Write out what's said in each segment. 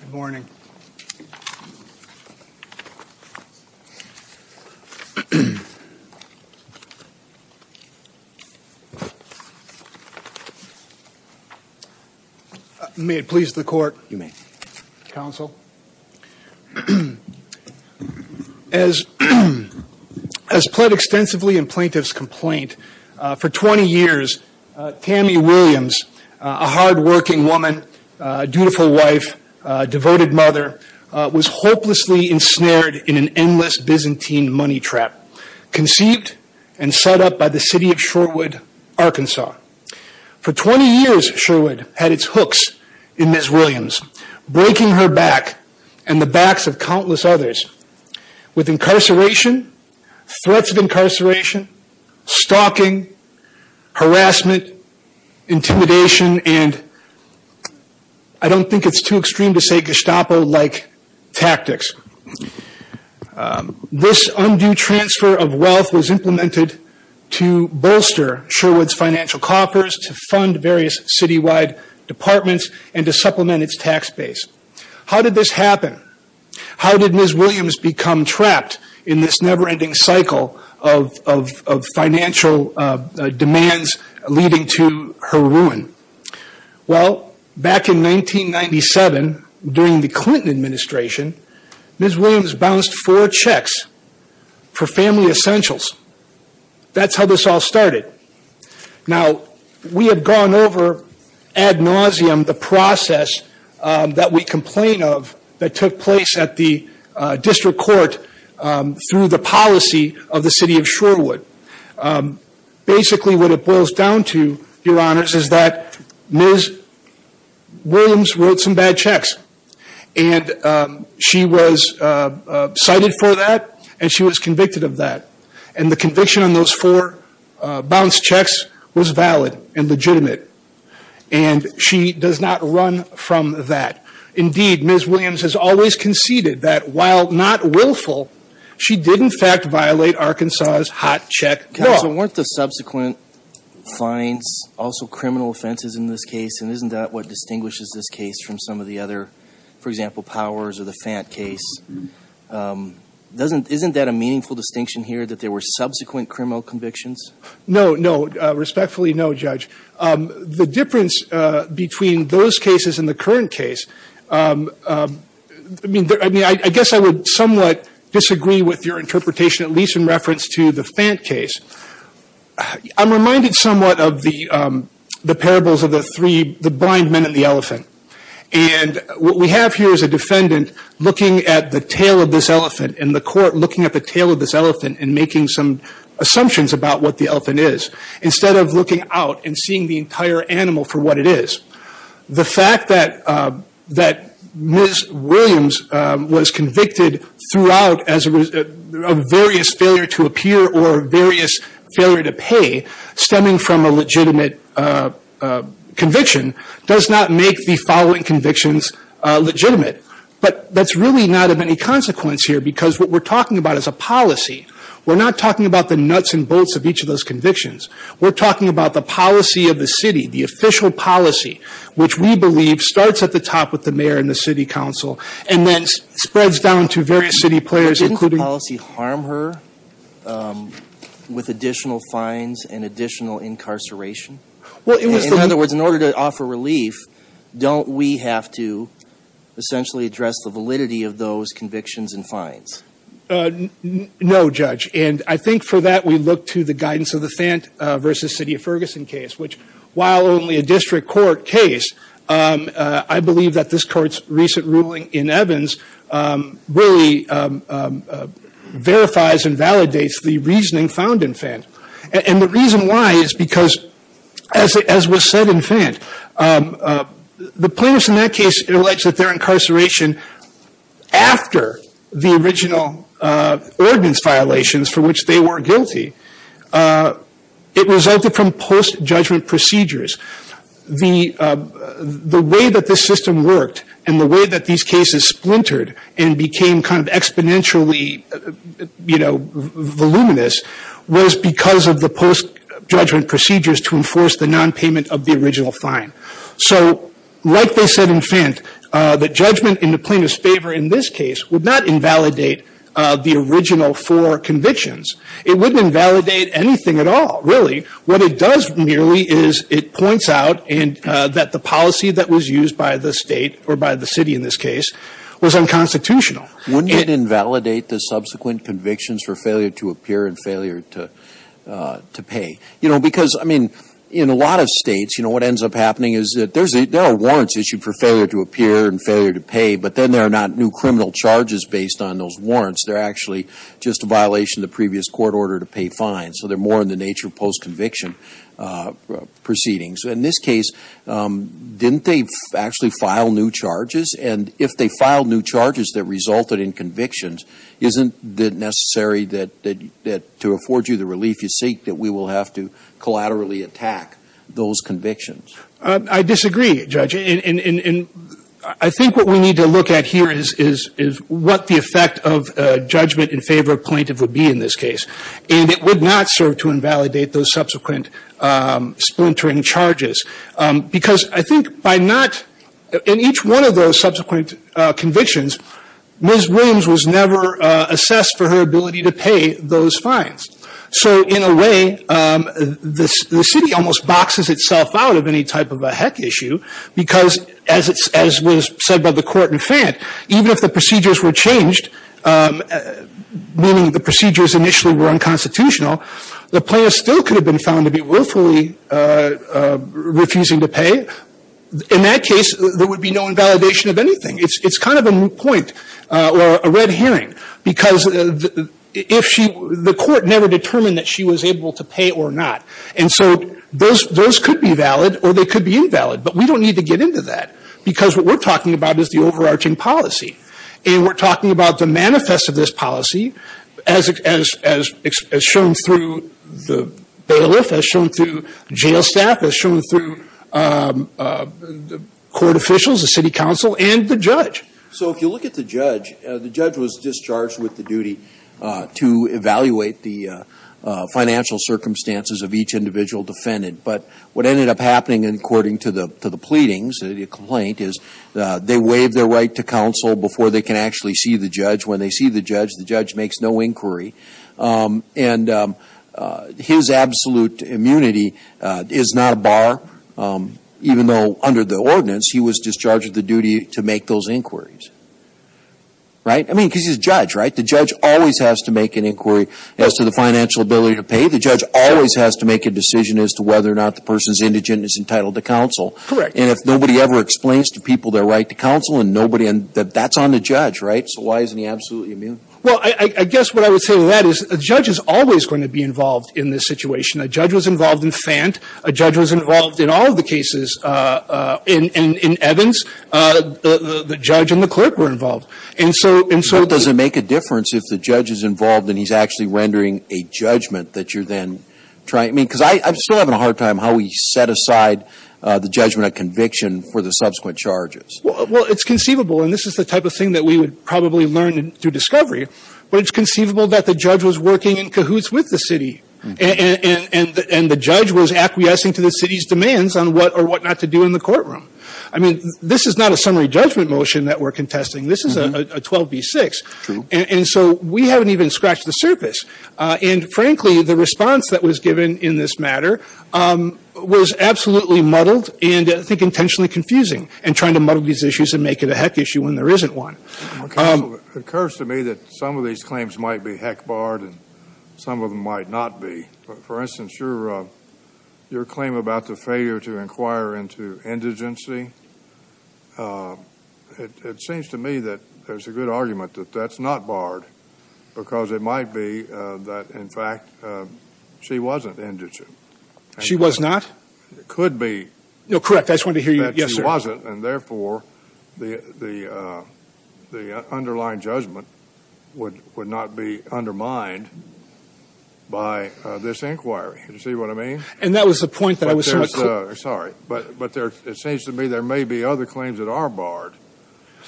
Good morning. May it please the court. You may. Counsel. As pled extensively in plaintiff's complaint, for 20 years, Tammy Williams, a hardworking woman, a dutiful wife, a devoted mother, was hopelessly ensnared in an endless Byzantine money trap, conceived and set up by the City of Sherwood, Arkansas. For 20 years, Sherwood had its hooks in Ms. Williams, breaking her back and the backs of countless others with incarceration, threats of incarceration, stalking, harassment, intimidation, and I don't think it's too extreme to say Gestapo-like tactics. This undue transfer of wealth was implemented to bolster Sherwood's financial coffers, to fund various citywide departments, and to supplement its tax base. How did this happen? How did Ms. Williams become trapped in this never-ending cycle of financial demands leading to her ruin? Well, back in 1997, during the Clinton administration, Ms. Williams bounced four checks for family essentials. That's how this all started. Now, we have gone over ad nauseum the process that we complain of that took place at the district court through the policy of the City of Sherwood. Basically, what it boils down to, Your Honors, is that Ms. Williams wrote some bad checks. And she was cited for that, and she was convicted of that. And the conviction on those four bounced checks was valid and legitimate. And she does not run from that. Indeed, Ms. Williams has always conceded that while not willful, she did, in fact, violate Arkansas's hot check law. Counsel, weren't the subsequent fines also criminal offenses in this case? And isn't that what distinguishes this case from some of the other, for example, Powers or the Fant case? Isn't that a meaningful distinction here, that there were subsequent criminal convictions? No, no. Respectfully, no, Judge. The difference between those cases and the current case, I guess I would somewhat disagree with your interpretation, at least in reference to the Fant case. I'm reminded somewhat of the parables of the blind men and the elephant. And what we have here is a defendant looking at the tail of this elephant, and the court looking at the tail of this elephant and making some assumptions about what the elephant is, instead of looking out and seeing the entire animal for what it is. The fact that Ms. Williams was convicted throughout of various failure to appear or various failure to pay, stemming from a legitimate conviction, does not make the following convictions legitimate. But that's really not of any consequence here, because what we're talking about is a policy. We're not talking about the nuts and bolts of each of those convictions. We're talking about the policy of the city, the official policy, which we believe starts at the top with the mayor and the city council, and then spreads down to various city players, including- Didn't the policy harm her with additional fines and additional incarceration? In other words, in order to offer relief, don't we have to essentially address the validity of those convictions and fines? No, Judge. And I think for that we look to the guidance of the Fandt v. City of Ferguson case, which, while only a district court case, I believe that this court's recent ruling in Evans really verifies and validates the reasoning found in Fandt. And the reason why is because, as was said in Fandt, the plaintiffs in that case alleged that their incarceration, after the original ordinance violations for which they were guilty, it resulted from post-judgment procedures. The way that this system worked and the way that these cases splintered and became kind of exponentially voluminous was because of the post-judgment procedures to enforce the nonpayment of the original fine. So, like they said in Fandt, the judgment in the plaintiff's favor in this case would not invalidate the original four convictions. It wouldn't invalidate anything at all, really. What it does merely is it points out that the policy that was used by the state, or by the city in this case, was unconstitutional. Wouldn't it invalidate the subsequent convictions for failure to appear and failure to pay? You know, because, I mean, in a lot of states, you know, what ends up happening is that there are warrants issued for failure to appear and failure to pay, but then there are not new criminal charges based on those warrants. They're actually just a violation of the previous court order to pay fines. So they're more in the nature of post-conviction proceedings. In this case, didn't they actually file new charges? And if they filed new charges that resulted in convictions, isn't it necessary that to afford you the relief you seek, that we will have to collaterally attack those convictions? I disagree, Judge. And I think what we need to look at here is what the effect of judgment in favor of plaintiff would be in this case. And it would not serve to invalidate those subsequent splintering charges. Because I think by not, in each one of those subsequent convictions, Ms. Williams was never assessed for her ability to pay those fines. So in a way, the city almost boxes itself out of any type of a heck issue because, as was said by the court in Fann, even if the procedures were changed, meaning the procedures initially were unconstitutional, the plaintiff still could have been found to be willfully refusing to pay. In that case, there would be no invalidation of anything. It's kind of a moot point or a red herring. Because if she, the court never determined that she was able to pay or not. And so those could be valid or they could be invalid. But we don't need to get into that because what we're talking about is the overarching policy. And we're talking about the manifest of this policy as shown through the bailiff, as shown through jail staff, as shown through the court officials, the city council, and the judge. So if you look at the judge, the judge was discharged with the duty to evaluate the financial circumstances of each individual defendant. But what ended up happening, according to the pleadings, the complaint, is they waive their right to counsel before they can actually see the judge. When they see the judge, the judge makes no inquiry. And his absolute immunity is not a bar, even though under the ordinance, he was discharged with the duty to make those inquiries. Right? I mean, because he's a judge, right? The judge always has to make an inquiry as to the financial ability to pay. The judge always has to make a decision as to whether or not the person's indigent is entitled to counsel. Correct. And if nobody ever explains to people their right to counsel, and that's on the judge, right? So why isn't he absolutely immune? Well, I guess what I would say to that is a judge is always going to be involved in this situation. A judge was involved in FANT. A judge was involved in all of the cases in Evans. The judge and the clerk were involved. So does it make a difference if the judge is involved and he's actually rendering a judgment that you're then trying? I mean, because I'm still having a hard time how we set aside the judgment of conviction for the subsequent charges. Well, it's conceivable, and this is the type of thing that we would probably learn through discovery, but it's conceivable that the judge was working in cahoots with the city and the judge was acquiescing to the city's demands on what or what not to do in the courtroom. I mean, this is not a summary judgment motion that we're contesting. This is a 12B6. True. And so we haven't even scratched the surface. And, frankly, the response that was given in this matter was absolutely muddled and I think intentionally confusing in trying to muddle these issues and make it a heck issue when there isn't one. It occurs to me that some of these claims might be heck barred and some of them might not be. For instance, your claim about the failure to inquire into indigency, it seems to me that there's a good argument that that's not barred because it might be that, in fact, she wasn't indigent. She was not? It could be. No, correct. I just wanted to hear you. Yes, sir. And therefore, the underlying judgment would not be undermined by this inquiry. Do you see what I mean? And that was the point that I was trying to make. Sorry, but it seems to me there may be other claims that are barred.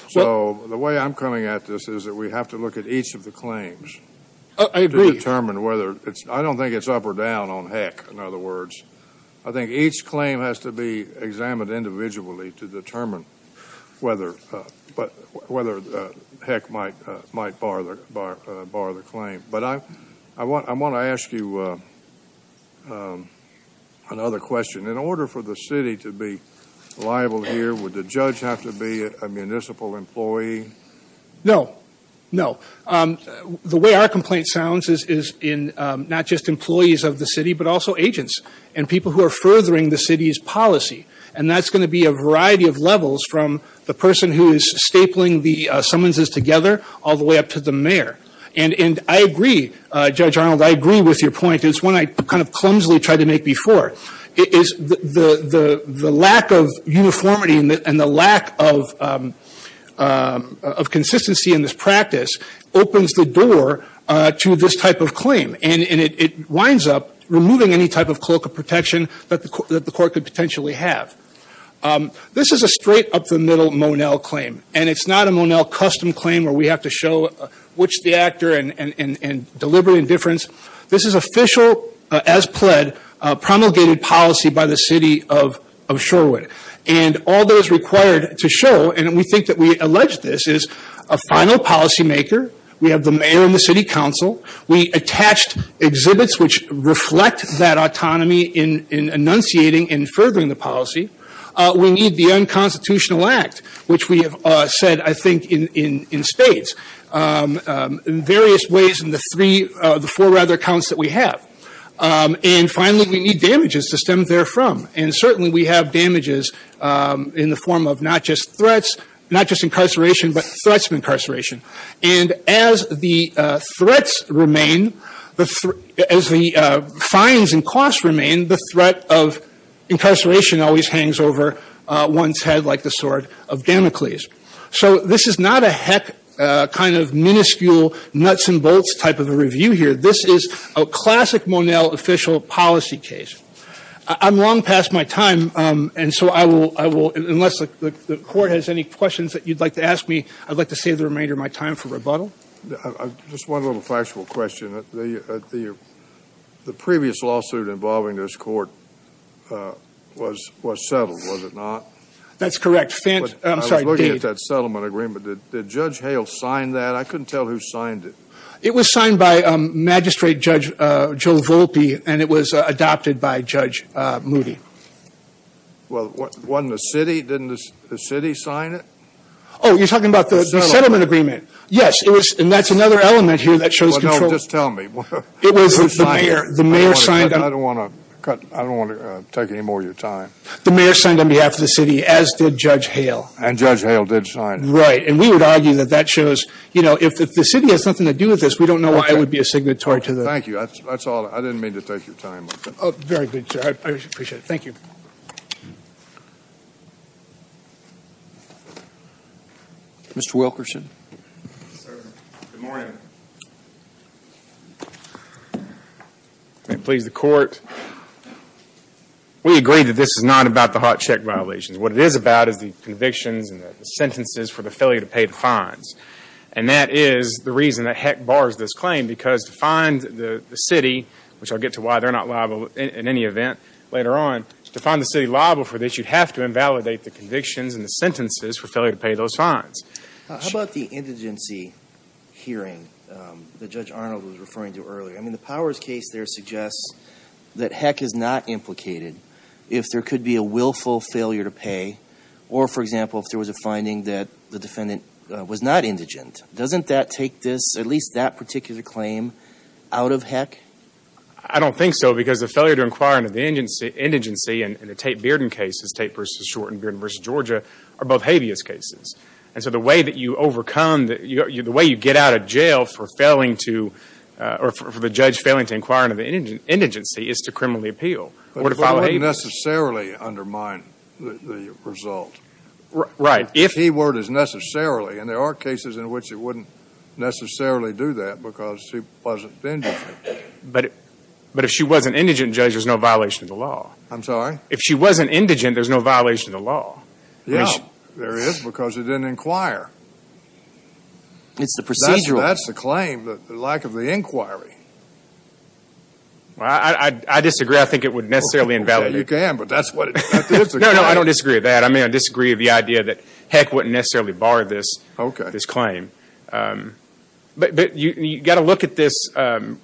So the way I'm coming at this is that we have to look at each of the claims. I agree. I don't think it's up or down on heck, in other words. I think each claim has to be examined individually to determine whether heck might bar the claim. But I want to ask you another question. In order for the city to be liable here, would the judge have to be a municipal employee? No. No. The way our complaint sounds is in not just employees of the city but also agents and people who are furthering the city's policy, and that's going to be a variety of levels from the person who is stapling the summonses together all the way up to the mayor. And I agree, Judge Arnold. I agree with your point. It's one I kind of clumsily tried to make before. The lack of uniformity and the lack of consistency in this practice opens the door to this type of claim, and it winds up removing any type of colloquial protection that the court could potentially have. This is a straight up the middle Monell claim, and it's not a Monell custom claim where we have to show which is the actor and deliberate indifference. This is official, as pled, promulgated policy by the city of Shorewood. And all that is required to show, and we think that we allege this, is a final policymaker. We have the mayor and the city council. We attached exhibits which reflect that autonomy in enunciating and furthering the policy. We need the unconstitutional act, which we have said, I think, in spades. In various ways in the four rather accounts that we have. And finally, we need damages to stem therefrom. And certainly we have damages in the form of not just threats, not just incarceration, but threats of incarceration. And as the threats remain, as the fines and costs remain, the threat of incarceration always hangs over one's head like the sword of Damocles. So this is not a heck kind of minuscule nuts and bolts type of a review here. This is a classic Monell official policy case. I'm long past my time, and so I will, unless the court has any questions that you'd like to ask me, I'd like to save the remainder of my time for rebuttal. Just one little factual question. The previous lawsuit involving this court was settled, was it not? That's correct. I'm sorry, Dave. I was looking at that settlement agreement. Did Judge Hale sign that? I couldn't tell who signed it. It was signed by Magistrate Judge Joe Volpe, and it was adopted by Judge Moody. Well, wasn't the city? Didn't the city sign it? Oh, you're talking about the settlement agreement. Yes, and that's another element here that shows control. Well, no, just tell me. The mayor signed it. I don't want to take any more of your time. The mayor signed on behalf of the city, as did Judge Hale. And Judge Hale did sign it. Right. And we would argue that that shows, you know, if the city has nothing to do with this, we don't know why it would be a signatory to the. Thank you. That's all. I didn't mean to take your time. Oh, very good, sir. I appreciate it. Thank you. Mr. Wilkerson. Sir, good morning. Please, the court. We agree that this is not about the hot check violations. What it is about is the convictions and the sentences for the failure to pay the fines. And that is the reason that Heck bars this claim, because to find the city, which I'll get to why they're not liable in any event later on, to find the city liable for this, you'd have to invalidate the convictions and the sentences for failure to pay those fines. How about the indigency hearing that Judge Arnold was referring to earlier? I mean, the Powers case there suggests that Heck is not implicated if there could be a willful failure to pay, or, for example, if there was a finding that the defendant was not indigent. Doesn't that take this, at least that particular claim, out of Heck? I don't think so, because the failure to inquire into the indigency in the Tate-Bearden cases, Tate v. Shorten, Bearden v. Georgia, are both habeas cases. And so the way that you overcome, the way you get out of jail for failing to, or for the judge failing to inquire into the indigency is to criminally appeal or to file a habeas. But it wouldn't necessarily undermine the result. Right. The key word is necessarily. And there are cases in which it wouldn't necessarily do that because she wasn't indigent. But if she wasn't indigent, Judge, there's no violation of the law. I'm sorry? If she wasn't indigent, there's no violation of the law. Yeah, there is, because you didn't inquire. It's the procedural. That's the claim, the lack of the inquiry. I disagree. I think it would necessarily invalidate. You can, but that's what it is. No, no, I don't disagree with that. I mean, I disagree with the idea that Heck wouldn't necessarily bar this claim. Okay. But you've got to look at this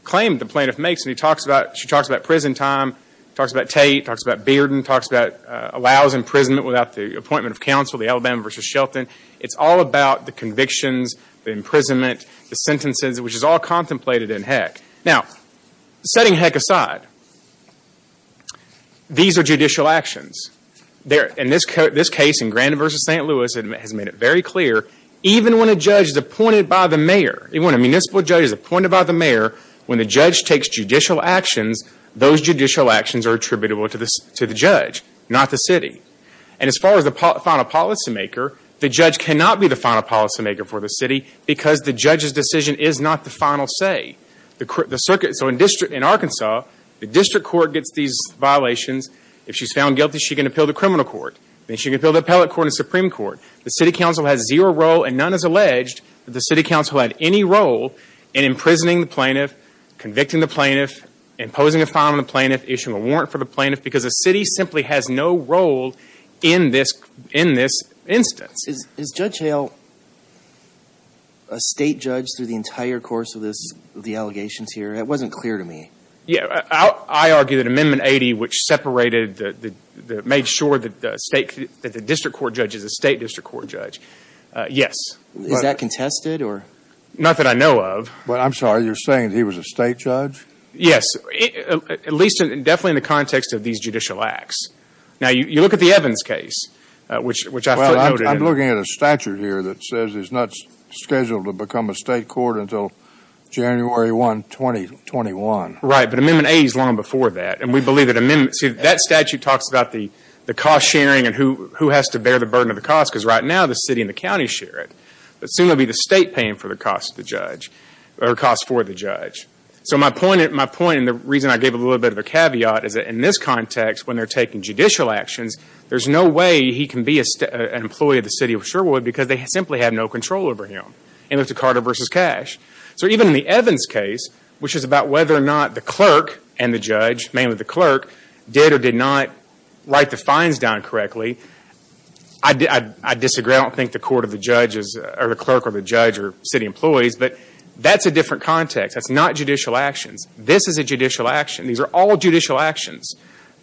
claim the plaintiff makes. She talks about prison time, talks about Tate, talks about Bearden, talks about allows imprisonment without the appointment of counsel, the Alabama v. Shelton. It's all about the convictions, the imprisonment, the sentences, which is all contemplated in Heck. Now, setting Heck aside, these are judicial actions. In this case, in Grandin v. St. Louis, it has made it very clear, even when a judge is appointed by the mayor, even when a municipal judge is appointed by the mayor, when the judge takes judicial actions, those judicial actions are attributable to the judge, not the city. And as far as the final policymaker, the judge cannot be the final policymaker for the city because the judge's decision is not the final say. So in Arkansas, the district court gets these violations. If she's found guilty, she can appeal to criminal court. Then she can appeal to appellate court and Supreme Court. The city council has zero role, and none has alleged that the city council had any role in imprisoning the plaintiff, convicting the plaintiff, imposing a fine on the plaintiff, issuing a warrant for the plaintiff, because the city simply has no role in this instance. Is Judge Hale a state judge through the entire course of the allegations here? It wasn't clear to me. I argue that Amendment 80, which made sure that the district court judge is a state district court judge, yes. Is that contested? Not that I know of. I'm sorry. You're saying he was a state judge? Yes, at least definitely in the context of these judicial acts. Now, you look at the Evans case, which I footnoted. I'm looking at a statute here that says he's not scheduled to become a state court until January 1, 2021. Right, but Amendment 80 is long before that, and we believe that that statute talks about the cost sharing and who has to bear the burden of the cost, because right now the city and the county share it. But soon it will be the state paying for the cost for the judge. So my point, and the reason I gave a little bit of a caveat, is that in this context, when they're taking judicial actions, there's no way he can be an employee of the city of Sherwood because they simply have no control over him. And look to Carter v. Cash. So even in the Evans case, which is about whether or not the clerk and the judge, mainly the clerk, did or did not write the fines down correctly, I disagree. I don't think the clerk or the judge are city employees, but that's a different context. That's not judicial actions. This is a judicial action. These are all judicial actions.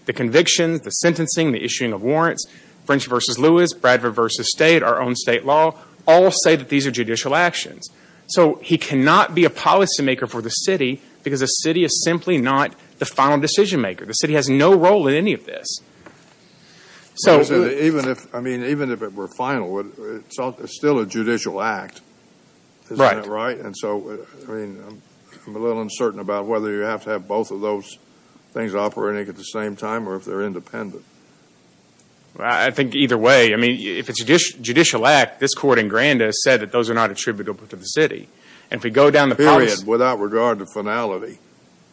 The convictions, the sentencing, the issuing of warrants, French v. Lewis, Bradford v. State, our own state law, all say that these are judicial actions. So he cannot be a policymaker for the city because the city is simply not the final decision maker. The city has no role in any of this. Even if it were final, it's still a judicial act. Right. Isn't that right? And so I'm a little uncertain about whether you have to have both of those things operating at the same time or if they're independent. I think either way. I mean, if it's a judicial act, this Court in Granda has said that those are not attributable to the city. And if we go down the policy— Period, without regard to finality.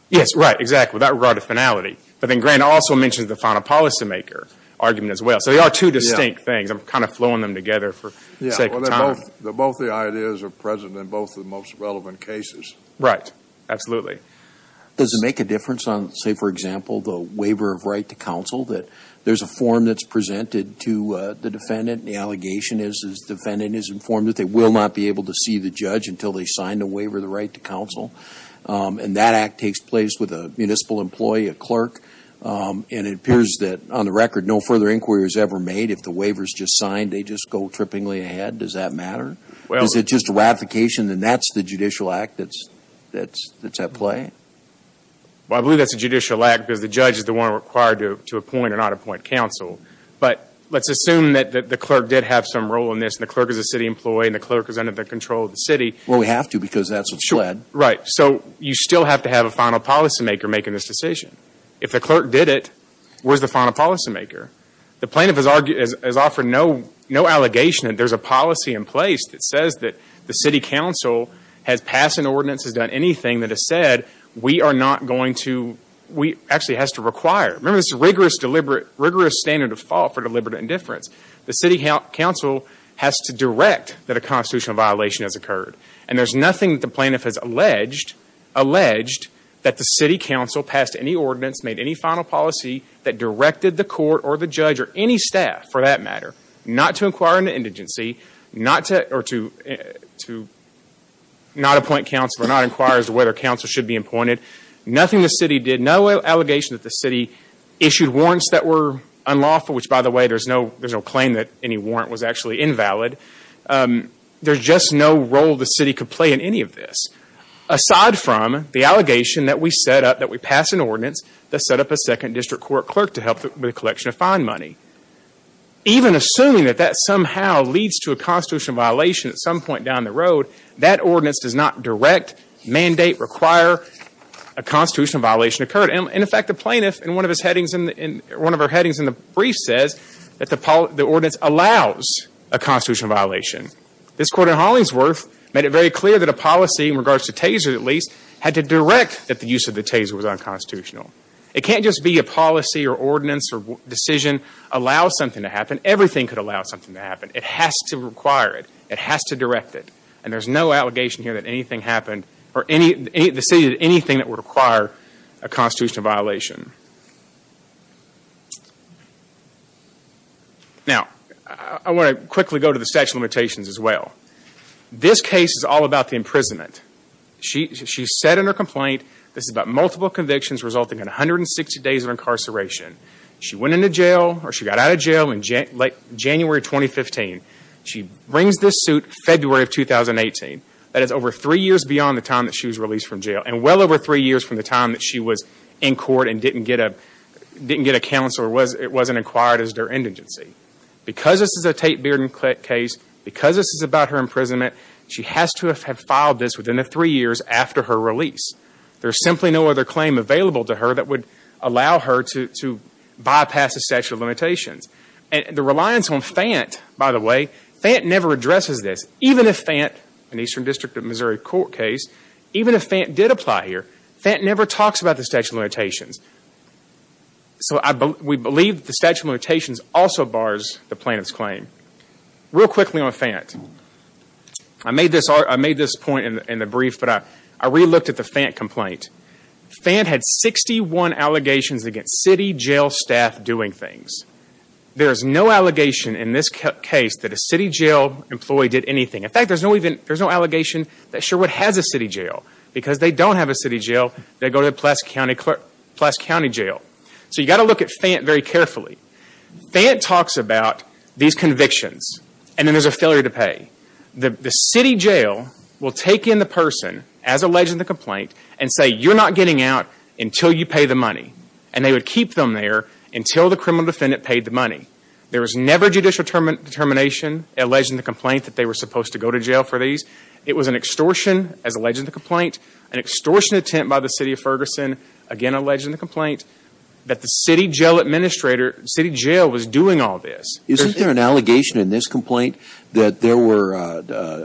Yes, right, exactly, without regard to finality. But then Granda also mentions the final policymaker argument as well. So they are two distinct things. I'm kind of flowing them together for the sake of time. Both the ideas are present in both the most relevant cases. Right, absolutely. Does it make a difference on, say, for example, the waiver of right to counsel, that there's a form that's presented to the defendant and the allegation is the defendant is informed that they will not be able to see the judge until they sign the waiver of the right to counsel? And that act takes place with a municipal employee, a clerk, and it appears that, on the record, no further inquiry is ever made. If the waiver is just signed, they just go trippingly ahead. Does that matter? Well— Is it just a ratification and that's the judicial act that's at play? Well, I believe that's a judicial act because the judge is the one required to appoint or not appoint counsel. But let's assume that the clerk did have some role in this and the clerk is a city employee and the clerk is under the control of the city. Well, we have to because that's what's led. Sure, right. So you still have to have a final policymaker making this decision. If the clerk did it, where's the final policymaker? The plaintiff has offered no allegation that there's a policy in place that says that the city council has passed an ordinance, has done anything that has said we are not going to— actually has to require. Remember, this is a rigorous standard of fault for deliberate indifference. The city council has to direct that a constitutional violation has occurred. And there's nothing that the plaintiff has alleged that the city council passed any ordinance, made any final policy that directed the court or the judge or any staff, for that matter, not to inquire into indigency or to not appoint counsel or not inquire as to whether counsel should be appointed. Nothing the city did, no allegation that the city issued warrants that were unlawful, which, by the way, there's no claim that any warrant was actually invalid. There's just no role the city could play in any of this. Aside from the allegation that we set up, that we pass an ordinance, that set up a second district court clerk to help with the collection of fine money. Even assuming that that somehow leads to a constitutional violation at some point down the road, that ordinance does not direct, mandate, require a constitutional violation occurred. And, in fact, the plaintiff, in one of her headings in the brief, says that the ordinance allows a constitutional violation. This court in Hollingsworth made it very clear that a policy, in regards to Taser at least, had to direct that the use of the Taser was unconstitutional. It can't just be a policy or ordinance or decision allows something to happen. Everything could allow something to happen. It has to require it. It has to direct it. And there's no allegation here that anything happened or the city did anything that would require a constitutional violation. Now, I want to quickly go to the statute of limitations as well. This case is all about the imprisonment. She said in her complaint, this is about multiple convictions resulting in 160 days of incarceration. She went into jail or she got out of jail in January 2015. She brings this suit February of 2018. That is over three years beyond the time that she was released from jail and well over three years from the time that she was in court and didn't get a counsel or it wasn't acquired as their indigency. Because this is a Tate Bearden case, because this is about her imprisonment, she has to have filed this within the three years after her release. There's simply no other claim available to her that would allow her to bypass the statute of limitations. And the reliance on FANT, by the way, FANT never addresses this. Even if FANT, an Eastern District of Missouri court case, even if FANT did apply here, FANT never talks about the statute of limitations. So we believe the statute of limitations also bars the plaintiff's claim. Real quickly on FANT, I made this point in the brief, but I re-looked at the FANT complaint. FANT had 61 allegations against city jail staff doing things. There is no allegation in this case that a city jail employee did anything. In fact, there's no allegation that Sherwood has a city jail because they don't have a city jail, they go to Pulaski County Jail. So you've got to look at FANT very carefully. FANT talks about these convictions and then there's a failure to pay. The city jail will take in the person as alleged in the complaint and say you're not getting out until you pay the money. And they would keep them there until the criminal defendant paid the money. There was never judicial determination alleged in the complaint that they were supposed to go to jail for these. It was an extortion as alleged in the complaint, an extortion attempt by the city of Ferguson, again alleged in the complaint, that the city jail administrator, city jail, was doing all this. Isn't there an allegation in this complaint that there were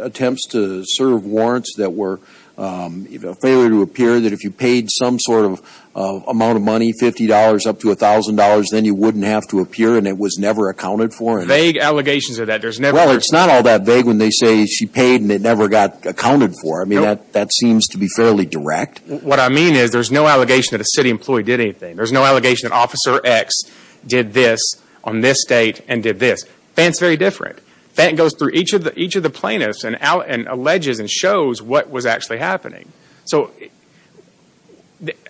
attempts to serve warrants that were a failure to appear, that if you paid some sort of amount of money, $50 up to $1,000, then you wouldn't have to appear and it was never accounted for? Vague allegations of that. Well, it's not all that vague when they say she paid and it never got accounted for. I mean, that seems to be fairly direct. What I mean is there's no allegation that a city employee did anything. There's no allegation that Officer X did this on this date and did this. FANT's very different. FANT goes through each of the plaintiffs and alleges and shows what was actually happening. So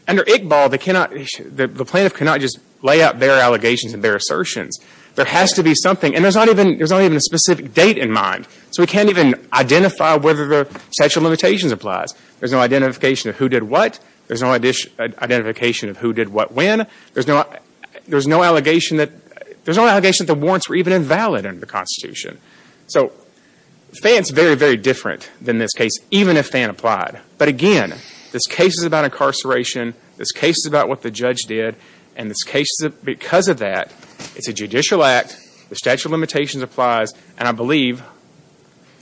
under ICBAL, the plaintiff cannot just lay out their allegations and their assertions. There has to be something, and there's not even a specific date in mind, so we can't even identify whether the statute of limitations applies. There's no identification of who did what. There's no identification of who did what when. There's no allegation that the warrants were even invalid under the Constitution. So FANT's very, very different than this case, even if FANT applied. But again, this case is about incarceration. This case is about what the judge did. And this case, because of that, it's a judicial act. The statute of limitations applies, and I believe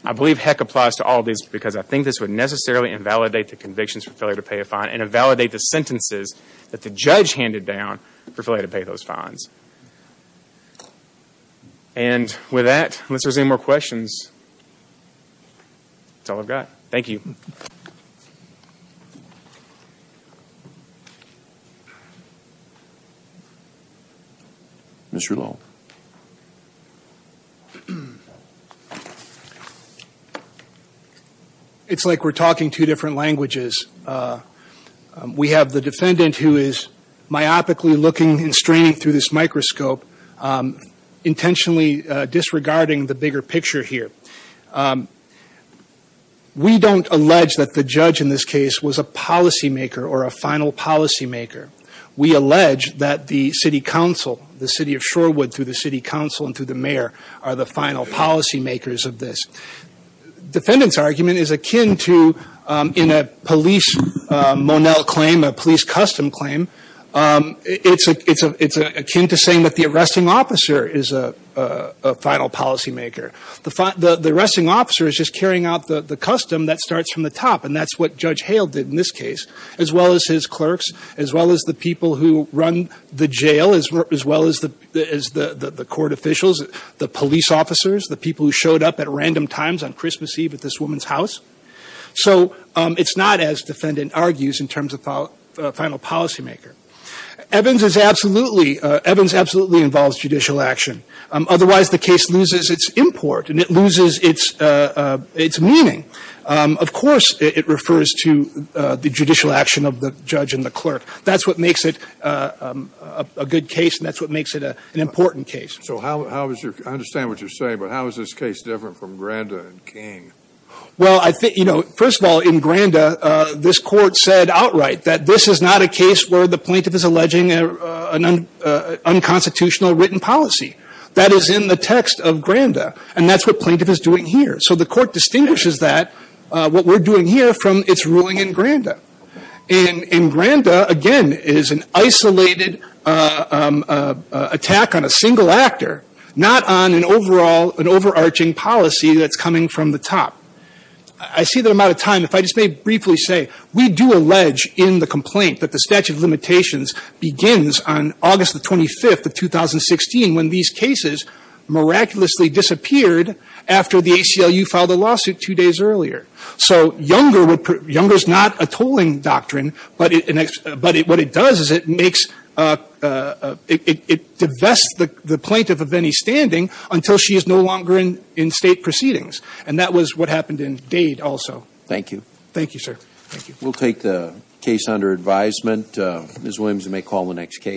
HEC applies to all these because I think this would necessarily invalidate the convictions for failure to pay a fine and invalidate the sentences that the judge handed down for failure to pay those fines. And with that, unless there's any more questions, that's all I've got. Thank you. Mr. Lowell. It's like we're talking two different languages. We have the defendant who is myopically looking and straining through this microscope, intentionally disregarding the bigger picture here. We don't allege that the judge in this case was a policymaker or a final policymaker. We allege that the city council, the city of Shorewood through the city council and through the mayor are the final policymakers of this. Defendant's argument is akin to, in a police Monell claim, a police custom claim, it's akin to saying that the arresting officer is a final policymaker. The arresting officer is just carrying out the custom that starts from the top, and that's what Judge Hale did in this case, as well as his clerks, as well as the people who run the jail, as well as the court officials, the police officers, the people who showed up at random times on Christmas Eve at this woman's house. So it's not as defendant argues in terms of final policymaker. Evans absolutely involves judicial action. Otherwise, the case loses its import and it loses its meaning. Of course, it refers to the judicial action of the judge and the clerk. That's what makes it a good case, and that's what makes it an important case. So I understand what you're saying, but how is this case different from Granda and King? Well, first of all, in Granda, this court said outright that this is not a case where the plaintiff is alleging an unconstitutional written policy. That is in the text of Granda, and that's what plaintiff is doing here. So the court distinguishes that, what we're doing here, from its ruling in Granda. And in Granda, again, is an isolated attack on a single actor, not on an overall, an overarching policy that's coming from the top. I see that I'm out of time. If I just may briefly say, we do allege in the complaint that the statute of limitations begins on August the 25th of 2016 when these cases miraculously disappeared after the ACLU filed a lawsuit two days earlier. So Younger's not a tolling doctrine, but what it does is it makes – it divests the plaintiff of any standing until she is no longer in State proceedings. And that was what happened in Dade also. Thank you. Thank you, sir. We'll take the case under advisement. Ms. Williams, you may call the next case.